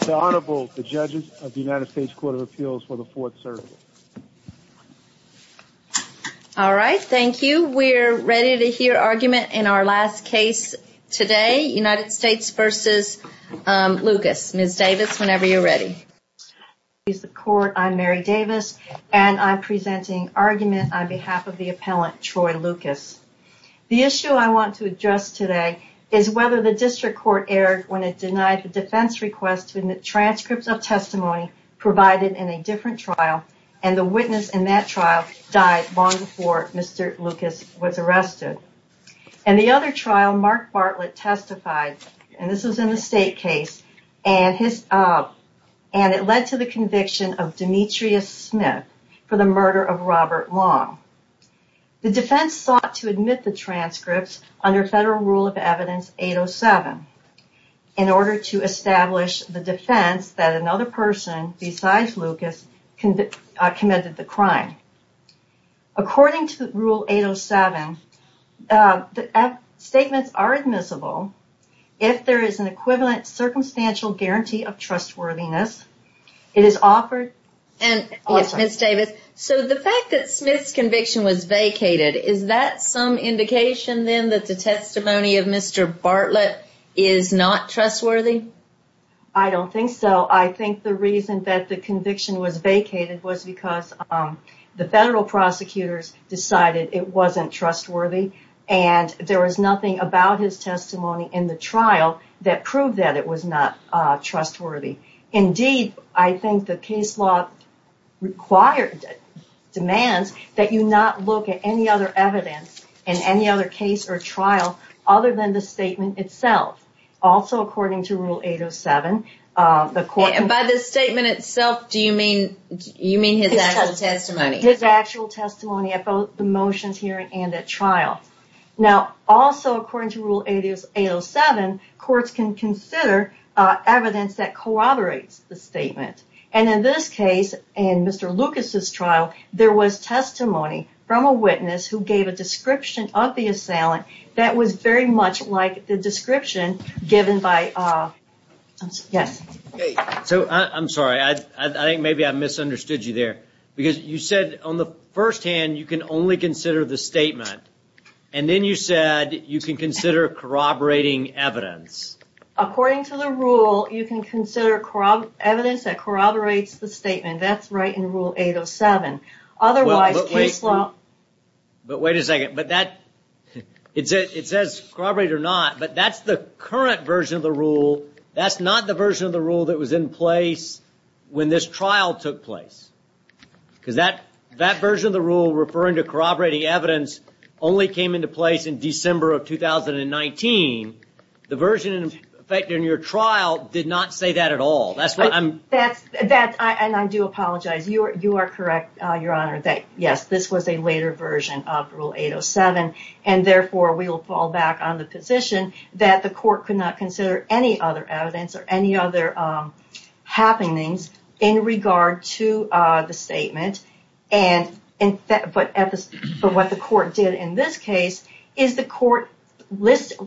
The Honorable, the Judges of the United States Court of Appeals for the Fourth Circuit. All right, thank you. We're ready to hear argument in our last case today, United States v. Lucas. Ms. Davis, whenever you're ready. I'm Mary Davis, and I'm presenting argument on behalf of the appellant, Troy Lucas. The issue I want to address today is whether the district court erred when it denied the defense request in the transcript of testimony provided in a different trial, and the witness in that trial died long before Mr. Lucas was arrested. In the other trial, Mark Bartlett testified, and this was in the state case, and it led to the conviction of Demetrius Smith for the murder of Robert Long. The defense sought to admit the transcripts under Federal Rule of Evidence 807 in order to establish the defense that another person besides Lucas committed the crime. According to Rule 807, the statements are admissible if there is an equivalent circumstantial guarantee of trustworthiness. It is offered... Ms. Davis, so the fact that Smith's conviction was vacated, is that some indication then that the testimony of Mr. Bartlett is not trustworthy? I don't think so. I think the reason that the conviction was vacated was because the federal prosecutors decided it wasn't trustworthy, and there was nothing about his testimony in the trial that proved that it was not trustworthy. Indeed, I think the case law demands that you not look at any other evidence in any other case or trial other than the statement itself. Also, according to Rule 807, the court... And by the statement itself, do you mean his actual testimony? His actual testimony at both the motions hearing and at trial. Now, also according to Rule 807, courts can consider evidence that corroborates the statement. And in this case, in Mr. Lucas's trial, there was testimony from a witness who gave a description of the assailant that was very much like the description given by... Yes? So, I'm sorry. I think maybe I misunderstood you there. Because you said on the first hand you can only consider the statement, and then you said you can consider corroborating evidence. According to the rule, you can consider evidence that corroborates the statement. That's right in Rule 807. Otherwise, case law... But wait a second. It says corroborate or not, but that's the current version of the rule. That's not the version of the rule that was in place when this trial took place. Because that version of the rule referring to corroborating evidence only came into place in December of 2019. The version in effect in your trial did not say that at all. That's what I'm... And I do apologize. You are correct, Your Honor, that yes, this was a later version of Rule 807. And therefore, we will fall back on the position that the court could not consider any other evidence or any other happenings in regard to the statement. But what the court did in this case is the court looked at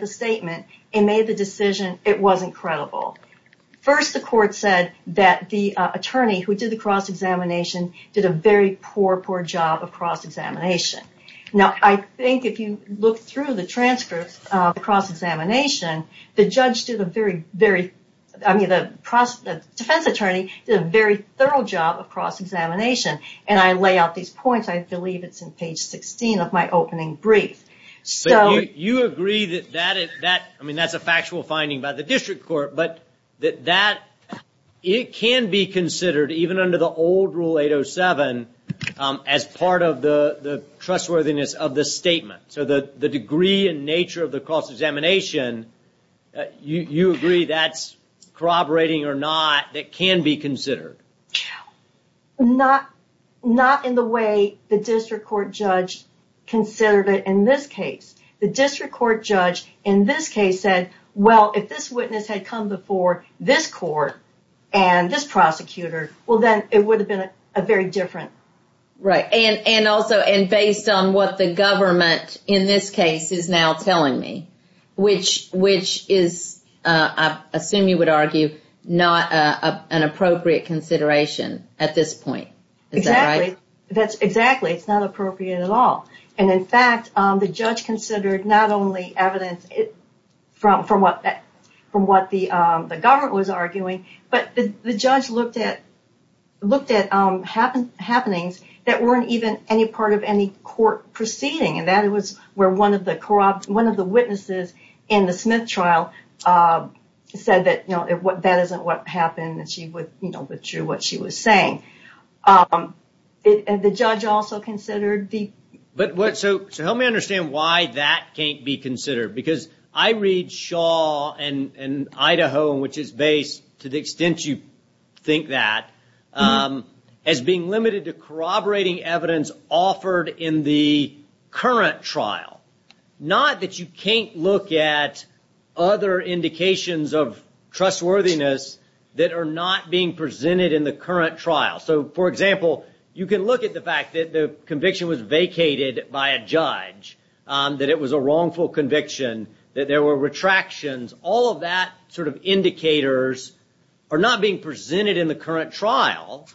the statement and made the decision it wasn't credible. First, the court said that the attorney who did the cross-examination did a very poor, poor job of cross-examination. Now, I think if you look through the transcripts of the cross-examination, the judge did a very, very... I mean, the defense attorney did a very thorough job of cross-examination. And I lay out these points. I believe it's in page 16 of my opening brief. You agree that that is... I mean, that's a factual finding by the district court. But that it can be considered, even under the old Rule 807, as part of the trustworthiness of the statement. So the degree and nature of the cross-examination, you agree that's corroborating or not, that can be considered? Not in the way the district court judge considered it in this case. The district court judge in this case said, well, if this witness had come before this court and this prosecutor, well, then it would have been a very different... Right. And also, and based on what the government in this case is now telling me, which is, I assume you would argue, not an appropriate consideration at this point. Is that right? Exactly. Exactly. It's not appropriate at all. And in fact, the judge considered not only evidence from what the government was arguing, but the judge looked at happenings that weren't even any part of any court proceeding. And that was where one of the witnesses in the Smith trial said that, you know, that isn't what happened. And she withdrew what she was saying. And the judge also considered the... So help me understand why that can't be considered. Because I read Shaw and Idaho, which is based, to the extent you think that, as being limited to corroborating evidence offered in the current trial. Not that you can't look at other indications of trustworthiness that are not being presented in the current trial. So, for example, you can look at the fact that the conviction was vacated by a judge, that it was a wrongful conviction, that there were retractions. All of that sort of indicators are not being presented in the current trial,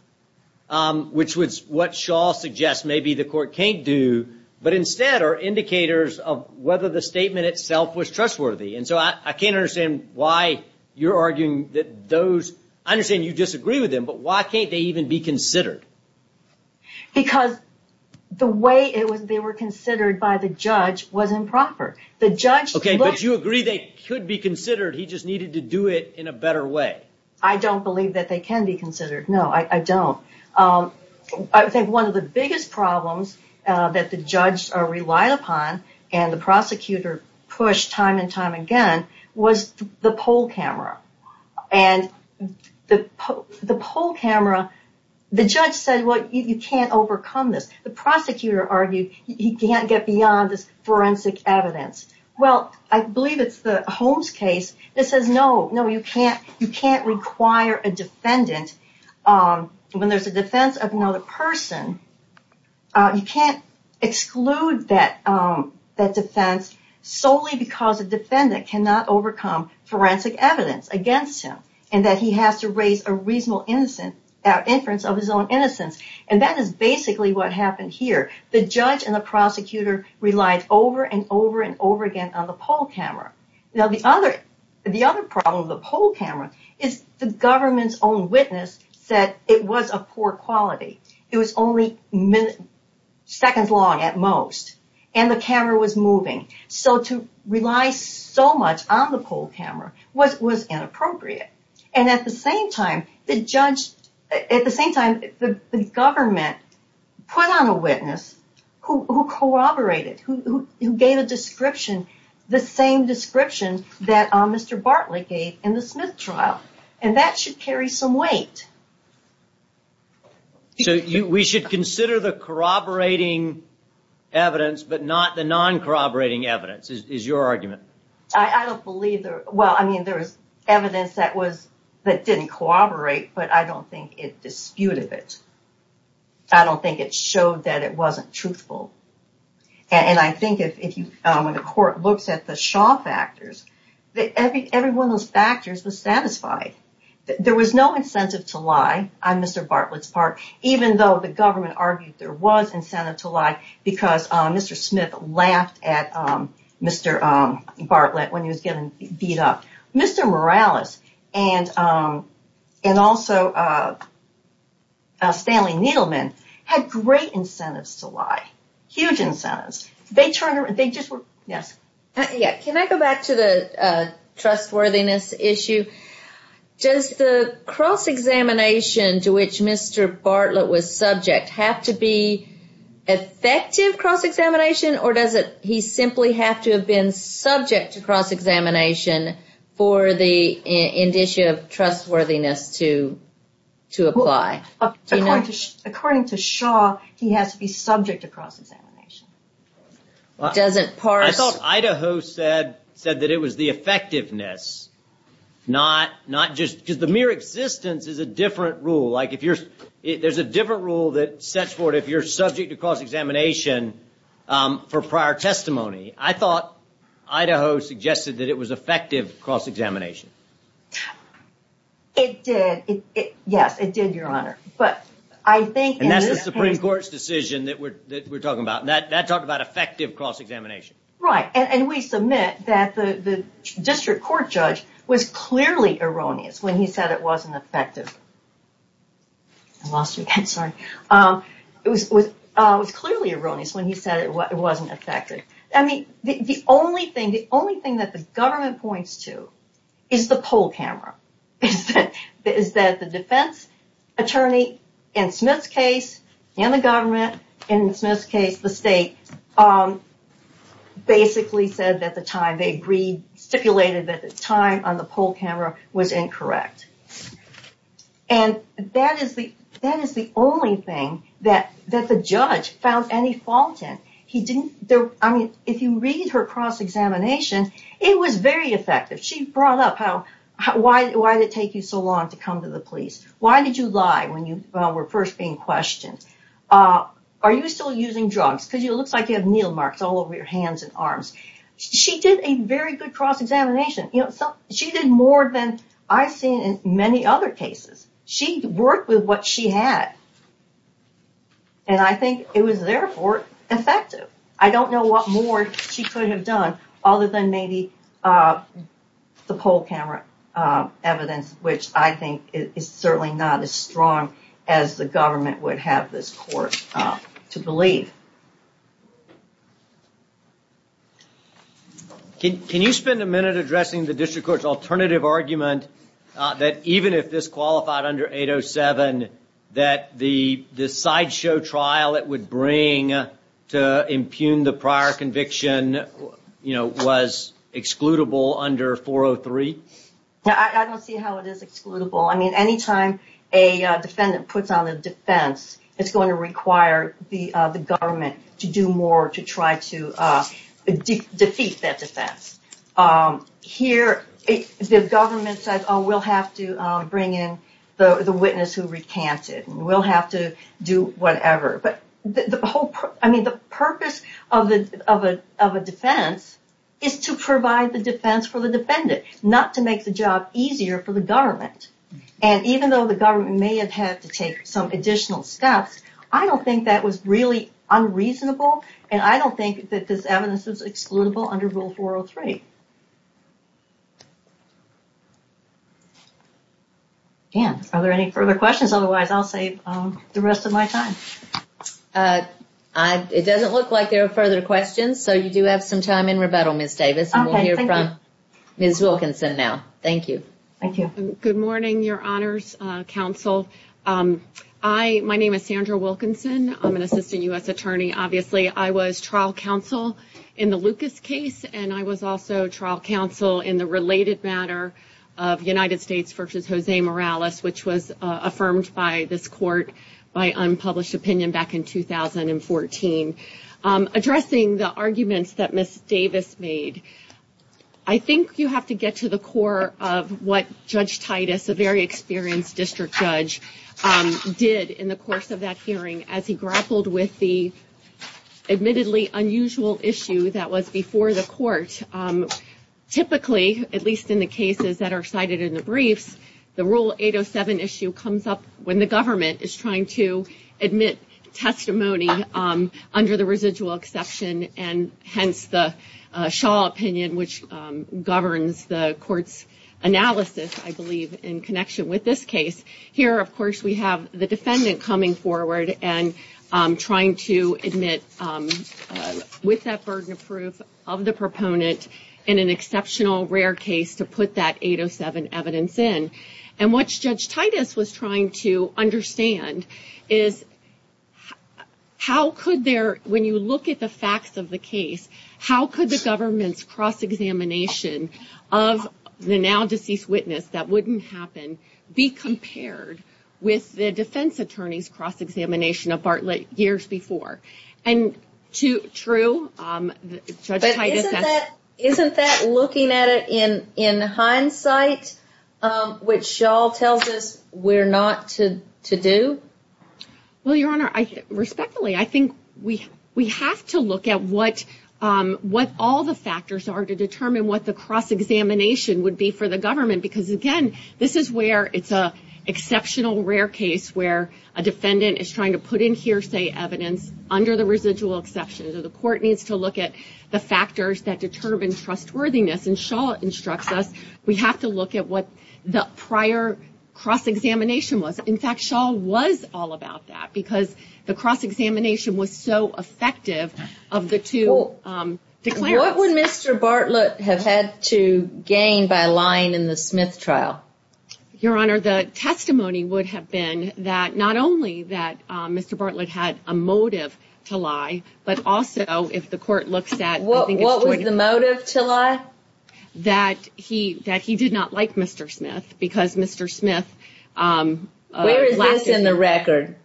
which was what Shaw suggests maybe the court can't do. But instead are indicators of whether the statement itself was trustworthy. And so I can't understand why you're arguing that those... I understand you disagree with them, but why can't they even be considered? Because the way they were considered by the judge was improper. Okay, but you agree they could be considered, he just needed to do it in a better way. I don't believe that they can be considered. No, I don't. I think one of the biggest problems that the judge relied upon, and the prosecutor pushed time and time again, was the poll camera. And the poll camera, the judge said, well, you can't overcome this. The prosecutor argued he can't get beyond this forensic evidence. Well, I believe it's the Holmes case that says, no, you can't require a defendant, when there's a defense of another person, you can't exclude that defense solely because a defendant cannot overcome forensic evidence against him, and that he has to raise a reasonable inference of his own innocence. And that is basically what happened here. The judge and the prosecutor relied over and over and over again on the poll camera. Now, the other problem with the poll camera is the government's own witness said it was of poor quality. It was only seconds long at most, and the camera was moving. So to rely so much on the poll camera was inappropriate. And at the same time, the government put on a witness who corroborated, who gave a description, the same description that Mr. Bartlett gave in the Smith trial. And that should carry some weight. So we should consider the corroborating evidence, but not the non-corroborating evidence, is your argument? Well, I mean, there was evidence that didn't corroborate, but I don't think it disputed it. I don't think it showed that it wasn't truthful. And I think when the court looks at the Shaw factors, every one of those factors was satisfied. There was no incentive to lie on Mr. Bartlett's part, even though the government argued there was incentive to lie, because Mr. Smith laughed at Mr. Bartlett when he was getting beat up. Mr. Morales and also Stanley Needleman had great incentives to lie, huge incentives. They just were – yes? Can I go back to the trustworthiness issue? Does the cross-examination to which Mr. Bartlett was subject have to be effective cross-examination, or does he simply have to have been subject to cross-examination for the indicia of trustworthiness to apply? According to Shaw, he has to be subject to cross-examination. Does it parse – I thought Idaho said that it was the effectiveness, not just – because the mere existence is a different rule. Like if you're – there's a different rule that sets forth if you're subject to cross-examination for prior testimony. I thought Idaho suggested that it was effective cross-examination. It did. Yes, it did, Your Honor. But I think – That's the Supreme Court's decision that we're talking about, and that talked about effective cross-examination. Right, and we submit that the district court judge was clearly erroneous when he said it wasn't effective. I lost you again, sorry. It was clearly erroneous when he said it wasn't effective. I mean, the only thing that the government points to is the poll camera, is that the defense attorney in Smith's case and the government in Smith's case, the state, basically said that the time they stipulated that the time on the poll camera was incorrect. And that is the only thing that the judge found any fault in. He didn't – I mean, if you read her cross-examination, it was very effective. She brought up how – why did it take you so long to come to the police? Why did you lie when you were first being questioned? Are you still using drugs? Because it looks like you have needle marks all over your hands and arms. She did a very good cross-examination. She did more than I've seen in many other cases. She worked with what she had, and I think it was therefore effective. I don't know what more she could have done other than maybe the poll camera evidence, which I think is certainly not as strong as the government would have this court to believe. Can you spend a minute addressing the district court's alternative argument that even if this qualified under 807, that the sideshow trial it would bring to impugn the prior conviction was excludable under 403? I don't see how it is excludable. I mean, any time a defendant puts on a defense, it's going to require the government to do more to try to defeat that defense. Here, the government says, oh, we'll have to bring in the witness who recanted, and we'll have to do whatever. But the purpose of a defense is to provide the defense for the defendant, not to make the job easier for the government. And even though the government may have had to take some additional steps, I don't think that was really unreasonable, and I don't think that this evidence is excludable under Rule 403. Ann, are there any further questions? Otherwise, I'll save the rest of my time. It doesn't look like there are further questions, so you do have some time in rebuttal, Ms. Davis. Okay, thank you. And we'll hear from Ms. Wilkinson now. Thank you. Thank you. Good morning, Your Honors Counsel. My name is Sandra Wilkinson. I'm an assistant U.S. attorney, obviously. I was trial counsel in the Lucas case, and I was also trial counsel in the related matter of United States v. Jose Morales, which was affirmed by this court by unpublished opinion back in 2014. Addressing the arguments that Ms. Davis made, I think you have to get to the core of what Judge Titus, a very experienced district judge, did in the course of that hearing as he grappled with the admittedly unusual issue that was before the court. Typically, at least in the cases that are cited in the briefs, the Rule 807 issue comes up when the government is trying to admit testimony under the residual exception, and hence the Shaw opinion, which governs the court's analysis, I believe, in connection with this case. Here, of course, we have the defendant coming forward and trying to admit with that burden of proof of the proponent in an exceptional rare case to put that 807 evidence in. What Judge Titus was trying to understand is, when you look at the facts of the case, how could the government's cross-examination of the now-deceased witness that wouldn't happen be compared with the defense attorney's cross-examination of Bartlett years before? True. But isn't that looking at it in hindsight, which Shaw tells us we're not to do? Well, Your Honor, respectfully, I think we have to look at what all the factors are to determine what the cross-examination would be for the government, because again, this is where it's an exceptional rare case where a defendant is trying to put in hearsay evidence under the residual exception. The court needs to look at the factors that determine trustworthiness, and Shaw instructs us we have to look at what the prior cross-examination was. In fact, Shaw was all about that because the cross-examination was so effective of the two declarants. What would Mr. Bartlett have had to gain by lying in the Smith trial? Your Honor, the testimony would have been that not only that Mr. Bartlett had a motive to lie, but also if the court looks at... What was the motive to lie? That he did not like Mr. Smith because Mr. Smith... Where is this in the record?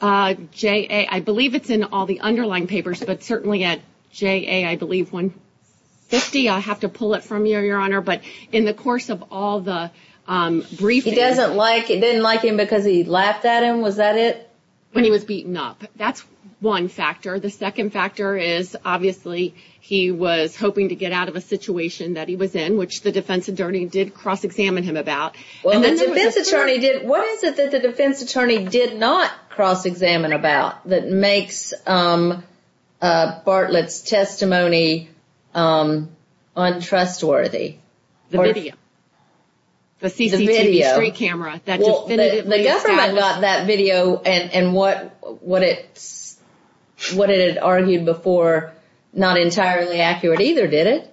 I believe it's in all the underlying papers, but certainly at JA, I believe, 150. I have to pull it from you, Your Honor, but in the course of all the briefings... He didn't like him because he laughed at him, was that it? When he was beaten up. That's one factor. The second factor is obviously he was hoping to get out of a situation that he was in, which the defense attorney did cross-examine him about. What is it that the defense attorney did not cross-examine about that makes Bartlett's testimony untrustworthy? The video. The CCTV street camera. The government got that video, and what it had argued before, not entirely accurate either, did it?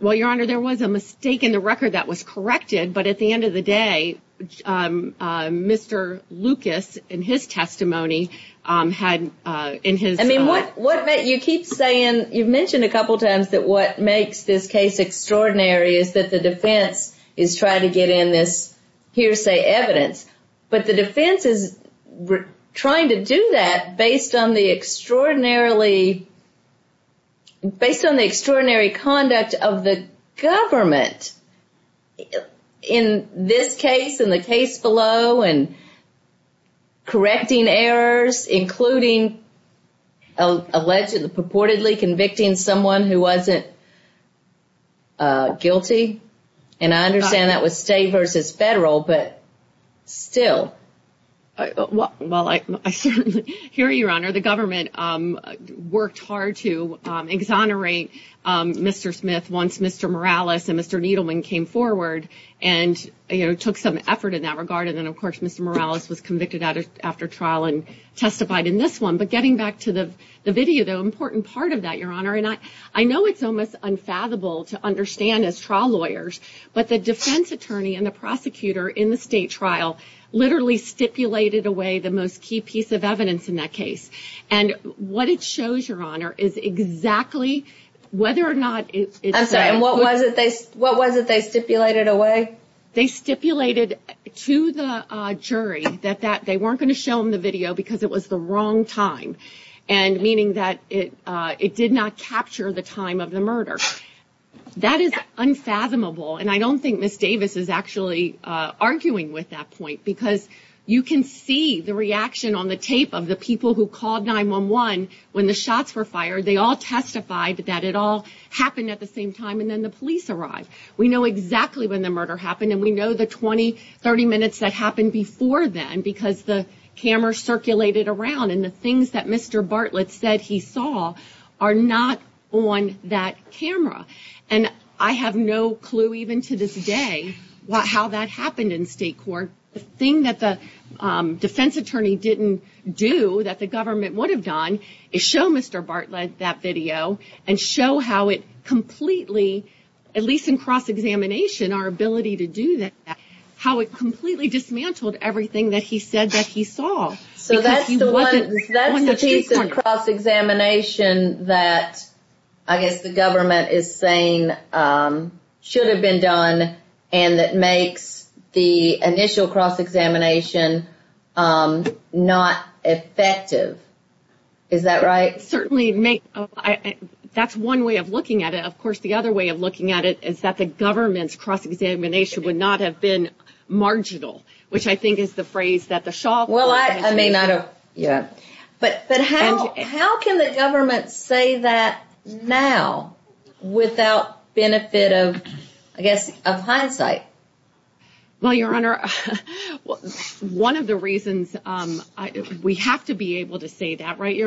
Well, Your Honor, there was a mistake in the record that was corrected, but at the end of the day, Mr. Lucas, in his testimony, had in his... You keep saying, you've mentioned a couple times that what makes this case extraordinary is that the defense is trying to get in this hearsay evidence, but the defense is trying to do that based on the extraordinary conduct of the government. In this case, in the case below, and correcting errors, including allegedly, purportedly convicting someone who wasn't guilty, and I understand that was state versus federal, but still. Well, I certainly hear you, Your Honor. The government worked hard to exonerate Mr. Smith once Mr. Morales and Mr. Needleman came forward and took some effort in that regard, and then, of course, Mr. Morales was convicted after trial and testified in this one. But getting back to the video, the important part of that, Your Honor, and I know it's almost unfathomable to understand as trial lawyers, but the defense attorney and the prosecutor in the state trial literally stipulated away the most key piece of evidence in that case. And what it shows, Your Honor, is exactly whether or not it's... I'm sorry, what was it they stipulated away? They stipulated to the jury that they weren't going to show them the video because it was the wrong time, meaning that it did not capture the time of the murder. That is unfathomable, and I don't think Ms. Davis is actually arguing with that point because you can see the reaction on the tape of the people who called 911 when the shots were fired. They all testified that it all happened at the same time, and then the police arrived. We know exactly when the murder happened, and we know the 20, 30 minutes that happened before then because the camera circulated around, and the things that Mr. Bartlett said he saw are not on that camera, and I have no clue even to this day how that happened in state court. The thing that the defense attorney didn't do that the government would have done is show Mr. Bartlett that video and show how it completely, at least in cross-examination, our ability to do that, how it completely dismantled everything that he said that he saw. So that's the piece in cross-examination that I guess the government is saying should have been done and that makes the initial cross-examination not effective. Is that right? Certainly. That's one way of looking at it. Of course, the other way of looking at it is that the government's cross-examination would not have been marginal, which I think is the phrase that the Shaw Commission used. But how can the government say that now without benefit of, I guess, of hindsight? Well, Your Honor, one of the reasons, we have to be able to say that, right?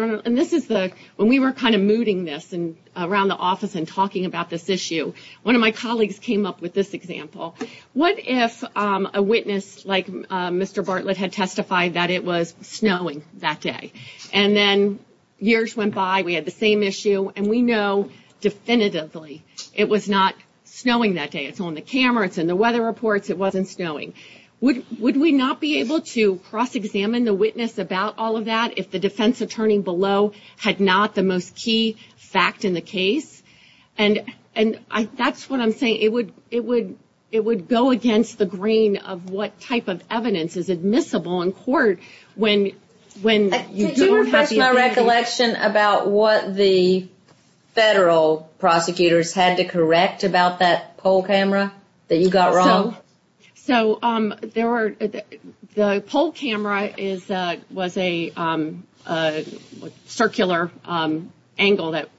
When we were kind of mooting this around the office and talking about this issue, one of my colleagues came up with this example. What if a witness like Mr. Bartlett had testified that it was snowing that day? And then years went by, we had the same issue, and we know definitively it was not snowing that day. It's on the camera, it's in the weather reports, it wasn't snowing. Would we not be able to cross-examine the witness about all of that if the defense attorney below had not the most key fact in the case? And that's what I'm saying. It would go against the grain of what type of evidence is admissible in court when you don't have the evidence. Did you refresh my recollection about what the federal prosecutors had to correct about that poll camera that you got wrong? So, the poll camera was a circular angle that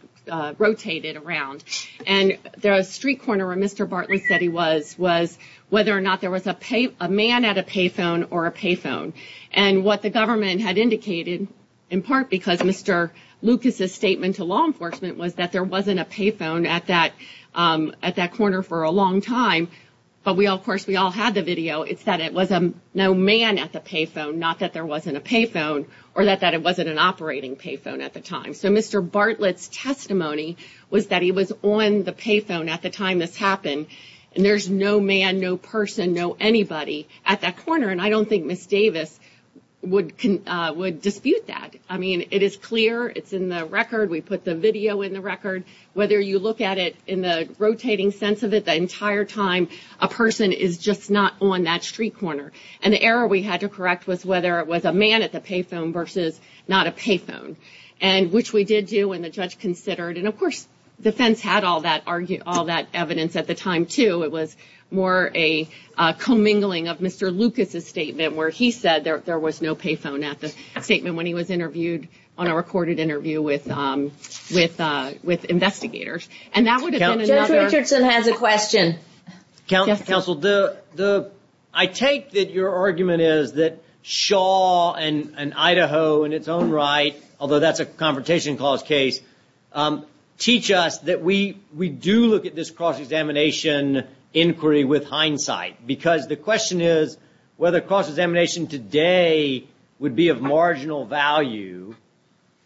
rotated, and it was a circular camera. And the street corner where Mr. Bartlett said he was, was whether or not there was a man at a payphone or a payphone. And what the government had indicated, in part because Mr. Lucas's statement to law enforcement, was that there wasn't a payphone at that corner for a long time. But we all, of course, we all had the video. It's that it was no man at the payphone, not that there wasn't a payphone, or that it wasn't an operating payphone at the time. That he was on the payphone at the time this happened, and there's no man, no person, no anybody at that corner. And I don't think Ms. Davis would dispute that. I mean, it is clear. It's in the record. We put the video in the record. Whether you look at it in the rotating sense of it, the entire time a person is just not on that street corner. And the error we had to correct was whether it was a man at the payphone versus not a payphone. And which we did do, and the judge considered. And of course, defense had all that evidence at the time, too. It was more a commingling of Mr. Lucas's statement where he said there was no payphone at the statement when he was interviewed on a recorded interview with investigators. And that would have been another... Judge Richardson has a question. Counsel, I take that your argument is that Shaw and Idaho in its own right, although that's a Confrontation Clause case, teach us that we do look at this cross-examination inquiry with hindsight. Because the question is whether cross-examination today would be of marginal value,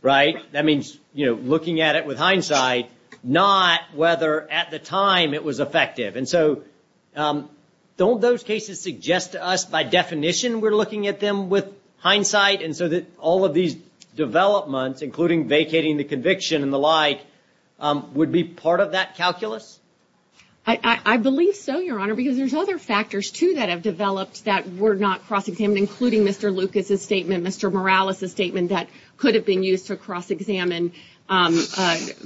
right? That means looking at it with hindsight, not whether at the time it was effective. So don't those cases suggest to us by definition we're looking at them with hindsight? And so that all of these developments, including vacating the conviction and the like, would be part of that calculus? I believe so, Your Honor, because there's other factors, too, that have developed that were not cross-examined, including Mr. Lucas's statement, Mr. Morales's statement that could have been used to cross-examine. If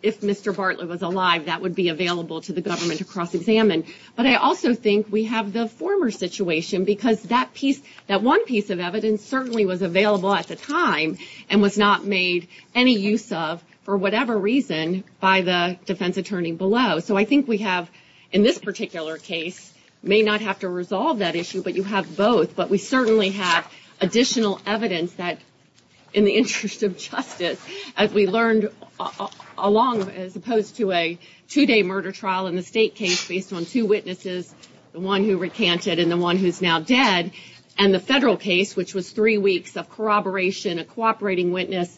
Mr. Bartlett was alive, that would be available to the government to cross-examine. But I also think we have the former situation, because that one piece of evidence certainly was available at the time and was not made any use of for whatever reason by the defense attorney below. So I think we have, in this particular case, may not have to resolve that issue, but you have both. But we certainly have additional evidence that, in the interest of justice, as we learned along, as opposed to a two-day murder trial in the state case based on two witnesses, the one who recanted and the one who's now dead, and the federal case, which was three weeks of corroboration, a cooperating witness,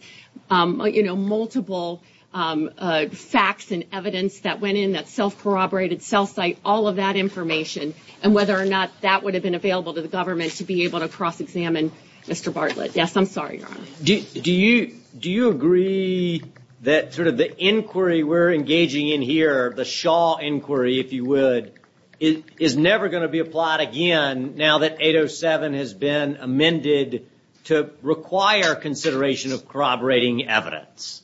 multiple facts and evidence that went in, that self-corroborated cell site, all of that information, and whether or not that would have been available to the government to be able to cross-examine Mr. Bartlett. Yes, I'm sorry, Your Honor. Do you agree that sort of the inquiry we're engaging in here, the Shaw inquiry, if you would, is never going to be applied again now that 807 has been amended to require consideration of corroborating evidence?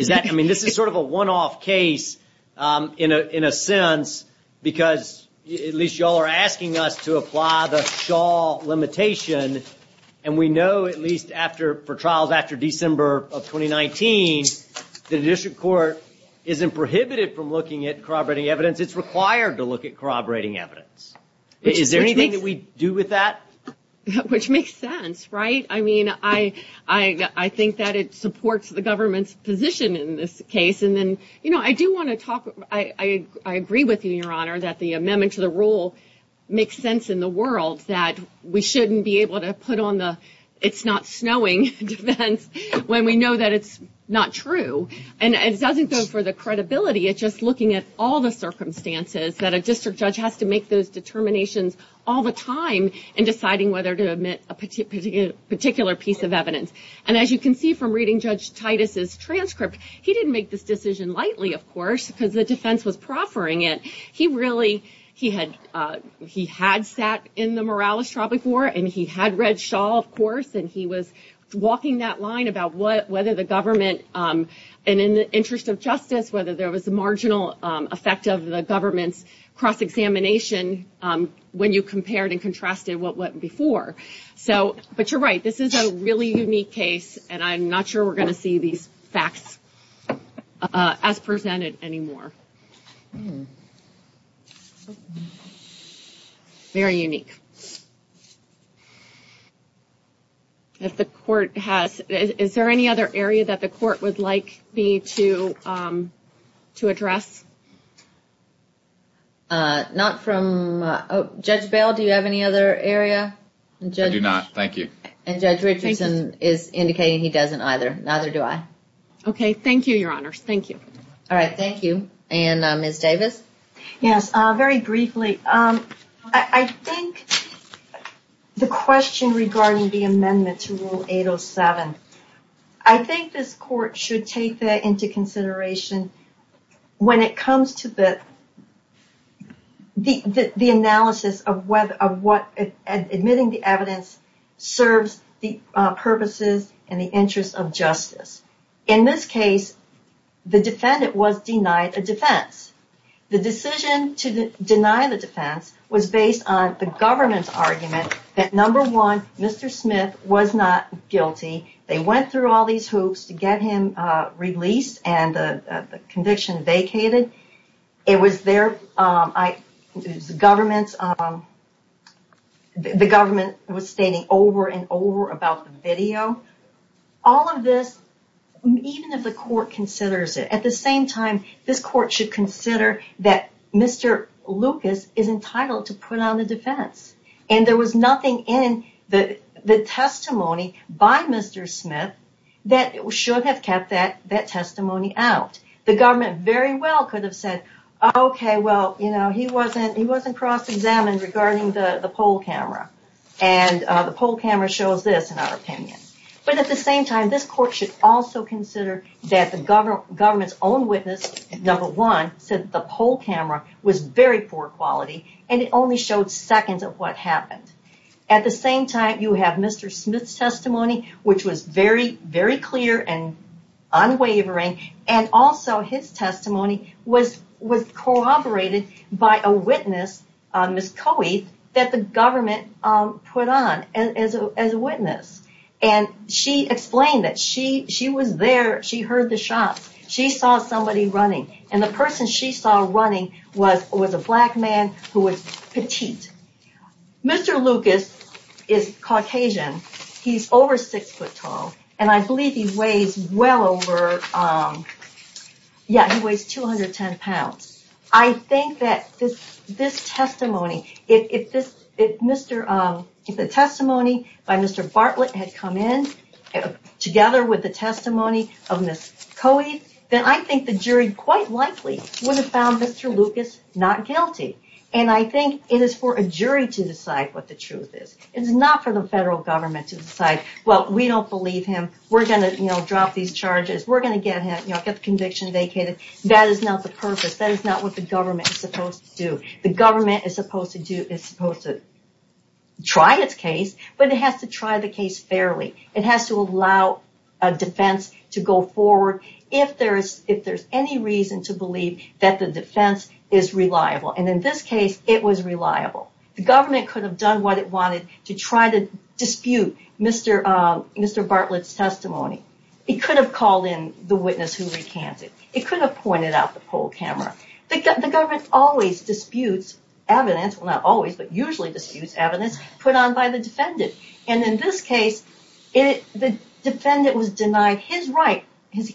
I mean, this is sort of a one-off case, in a sense, because at least you all are asking us to apply the Shaw limitation, and we know, at least for trials after December of 2019, the district court isn't prohibited from looking at corroborating evidence. It's required to look at corroborating evidence. Is there anything that we do with that? Which makes sense, right? I mean, I think that it supports the government's position in this case. I agree with you, Your Honor, that the amendment to the rule makes sense in the world, that we shouldn't be able to put on the it's not snowing defense when we know that it's not true. And it doesn't go for the credibility. It's just looking at all the circumstances that a district judge has to make those determinations all the time in deciding whether to admit a particular piece of evidence. And as you can see from reading Judge Titus's transcript, he didn't make this decision lightly, of course, because the defense was proffering it. He had sat in the Morales Tropic War, and he had read Shaw, of course, and he was walking that line about whether the government, and in the interest of justice, whether there was a marginal effect of the government's cross-examination when you compared and contrasted what went before. But you're right, this is a really unique case, and I'm not sure we're going to see these facts as presented anymore. Very unique. Is there any other area that the court would like me to address? Not from... Judge Bell, do you have any other area? I do not, thank you. And Judge Richardson is indicating he doesn't either. Neither do I. Okay, thank you, Your Honors, thank you. All right, thank you, and Ms. Davis? Yes, very briefly, I think the question regarding the amendment to Rule 807, I think this court should take that into consideration when it comes to the analysis of admitting the evidence serves the purposes and the interest of justice. In this case, the defendant was denied a defense. The decision to deny the defense was based on the government's argument that, number one, Mr. Smith was not guilty. They went through all these hoops to get him released and the conviction vacated. It was their... The government was stating over and over about the video. All of this, even if the court considers it, at the same time, this court should consider that Mr. Lucas is entitled to put on the defense. And there was nothing in the testimony by Mr. Smith that should have kept that testimony out. The government very well could have said, okay, well, he wasn't cross-examined regarding the poll camera. And the poll camera shows this, in our opinion. But at the same time, this court should also consider that the government's own witness, number one, said the poll camera was very poor quality and it only showed seconds of what happened. At the same time, you have Mr. Smith's testimony, which was very clear and unwavering, and also his testimony was corroborated by a witness, Ms. Coey, that the government put on as a witness. She explained that she was there, she heard the shots, she saw somebody running. And the person she saw running was a black man who was petite. Mr. Lucas is Caucasian. He's over six foot tall. And I believe he weighs well over, yeah, he weighs 210 pounds. I think that this testimony, if the testimony by Mr. Bartlett had come in together with the testimony of Ms. Coey, then I think the jury quite likely would have found Mr. Lucas not guilty. And I think it is for a jury to decide what the truth is. It is not for the federal government to decide, well, we don't believe him. We're going to drop these charges. We're going to get the conviction vacated. That is not the purpose. That is not what the government is supposed to do. The government is supposed to try its case, but it has to try the case fairly. It has to allow a defense to go forward if there's any reason to believe that the defense is reliable. And in this case, it was reliable. The government could have done what it wanted to try to dispute Mr. Bartlett's testimony. It could have called in the witness who recanted. It could have pointed out the poll camera. The government always disputes evidence, well, not always, but usually disputes evidence put on by the defendant. And in this case, the defendant was denied his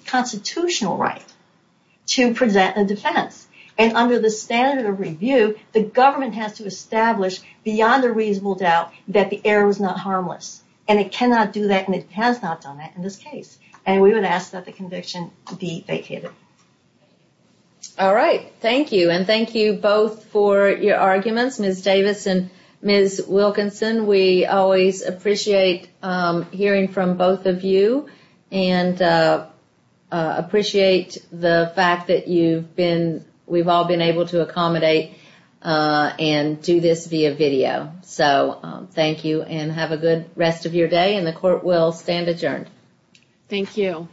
constitutional right to present a defense. And under the standard of review, the government has to establish beyond a reasonable doubt that the error was not harmless. And it cannot do that, and it has not done that in this case. And we would ask that the conviction be vacated. All right. Thank you. And thank you both for your arguments, Ms. Davis and Ms. Wilkinson. We always appreciate hearing from both of you and appreciate the fact that we've all been able to accommodate and do this via video. So thank you and have a good rest of your day. And the court will stand adjourned. Thank you.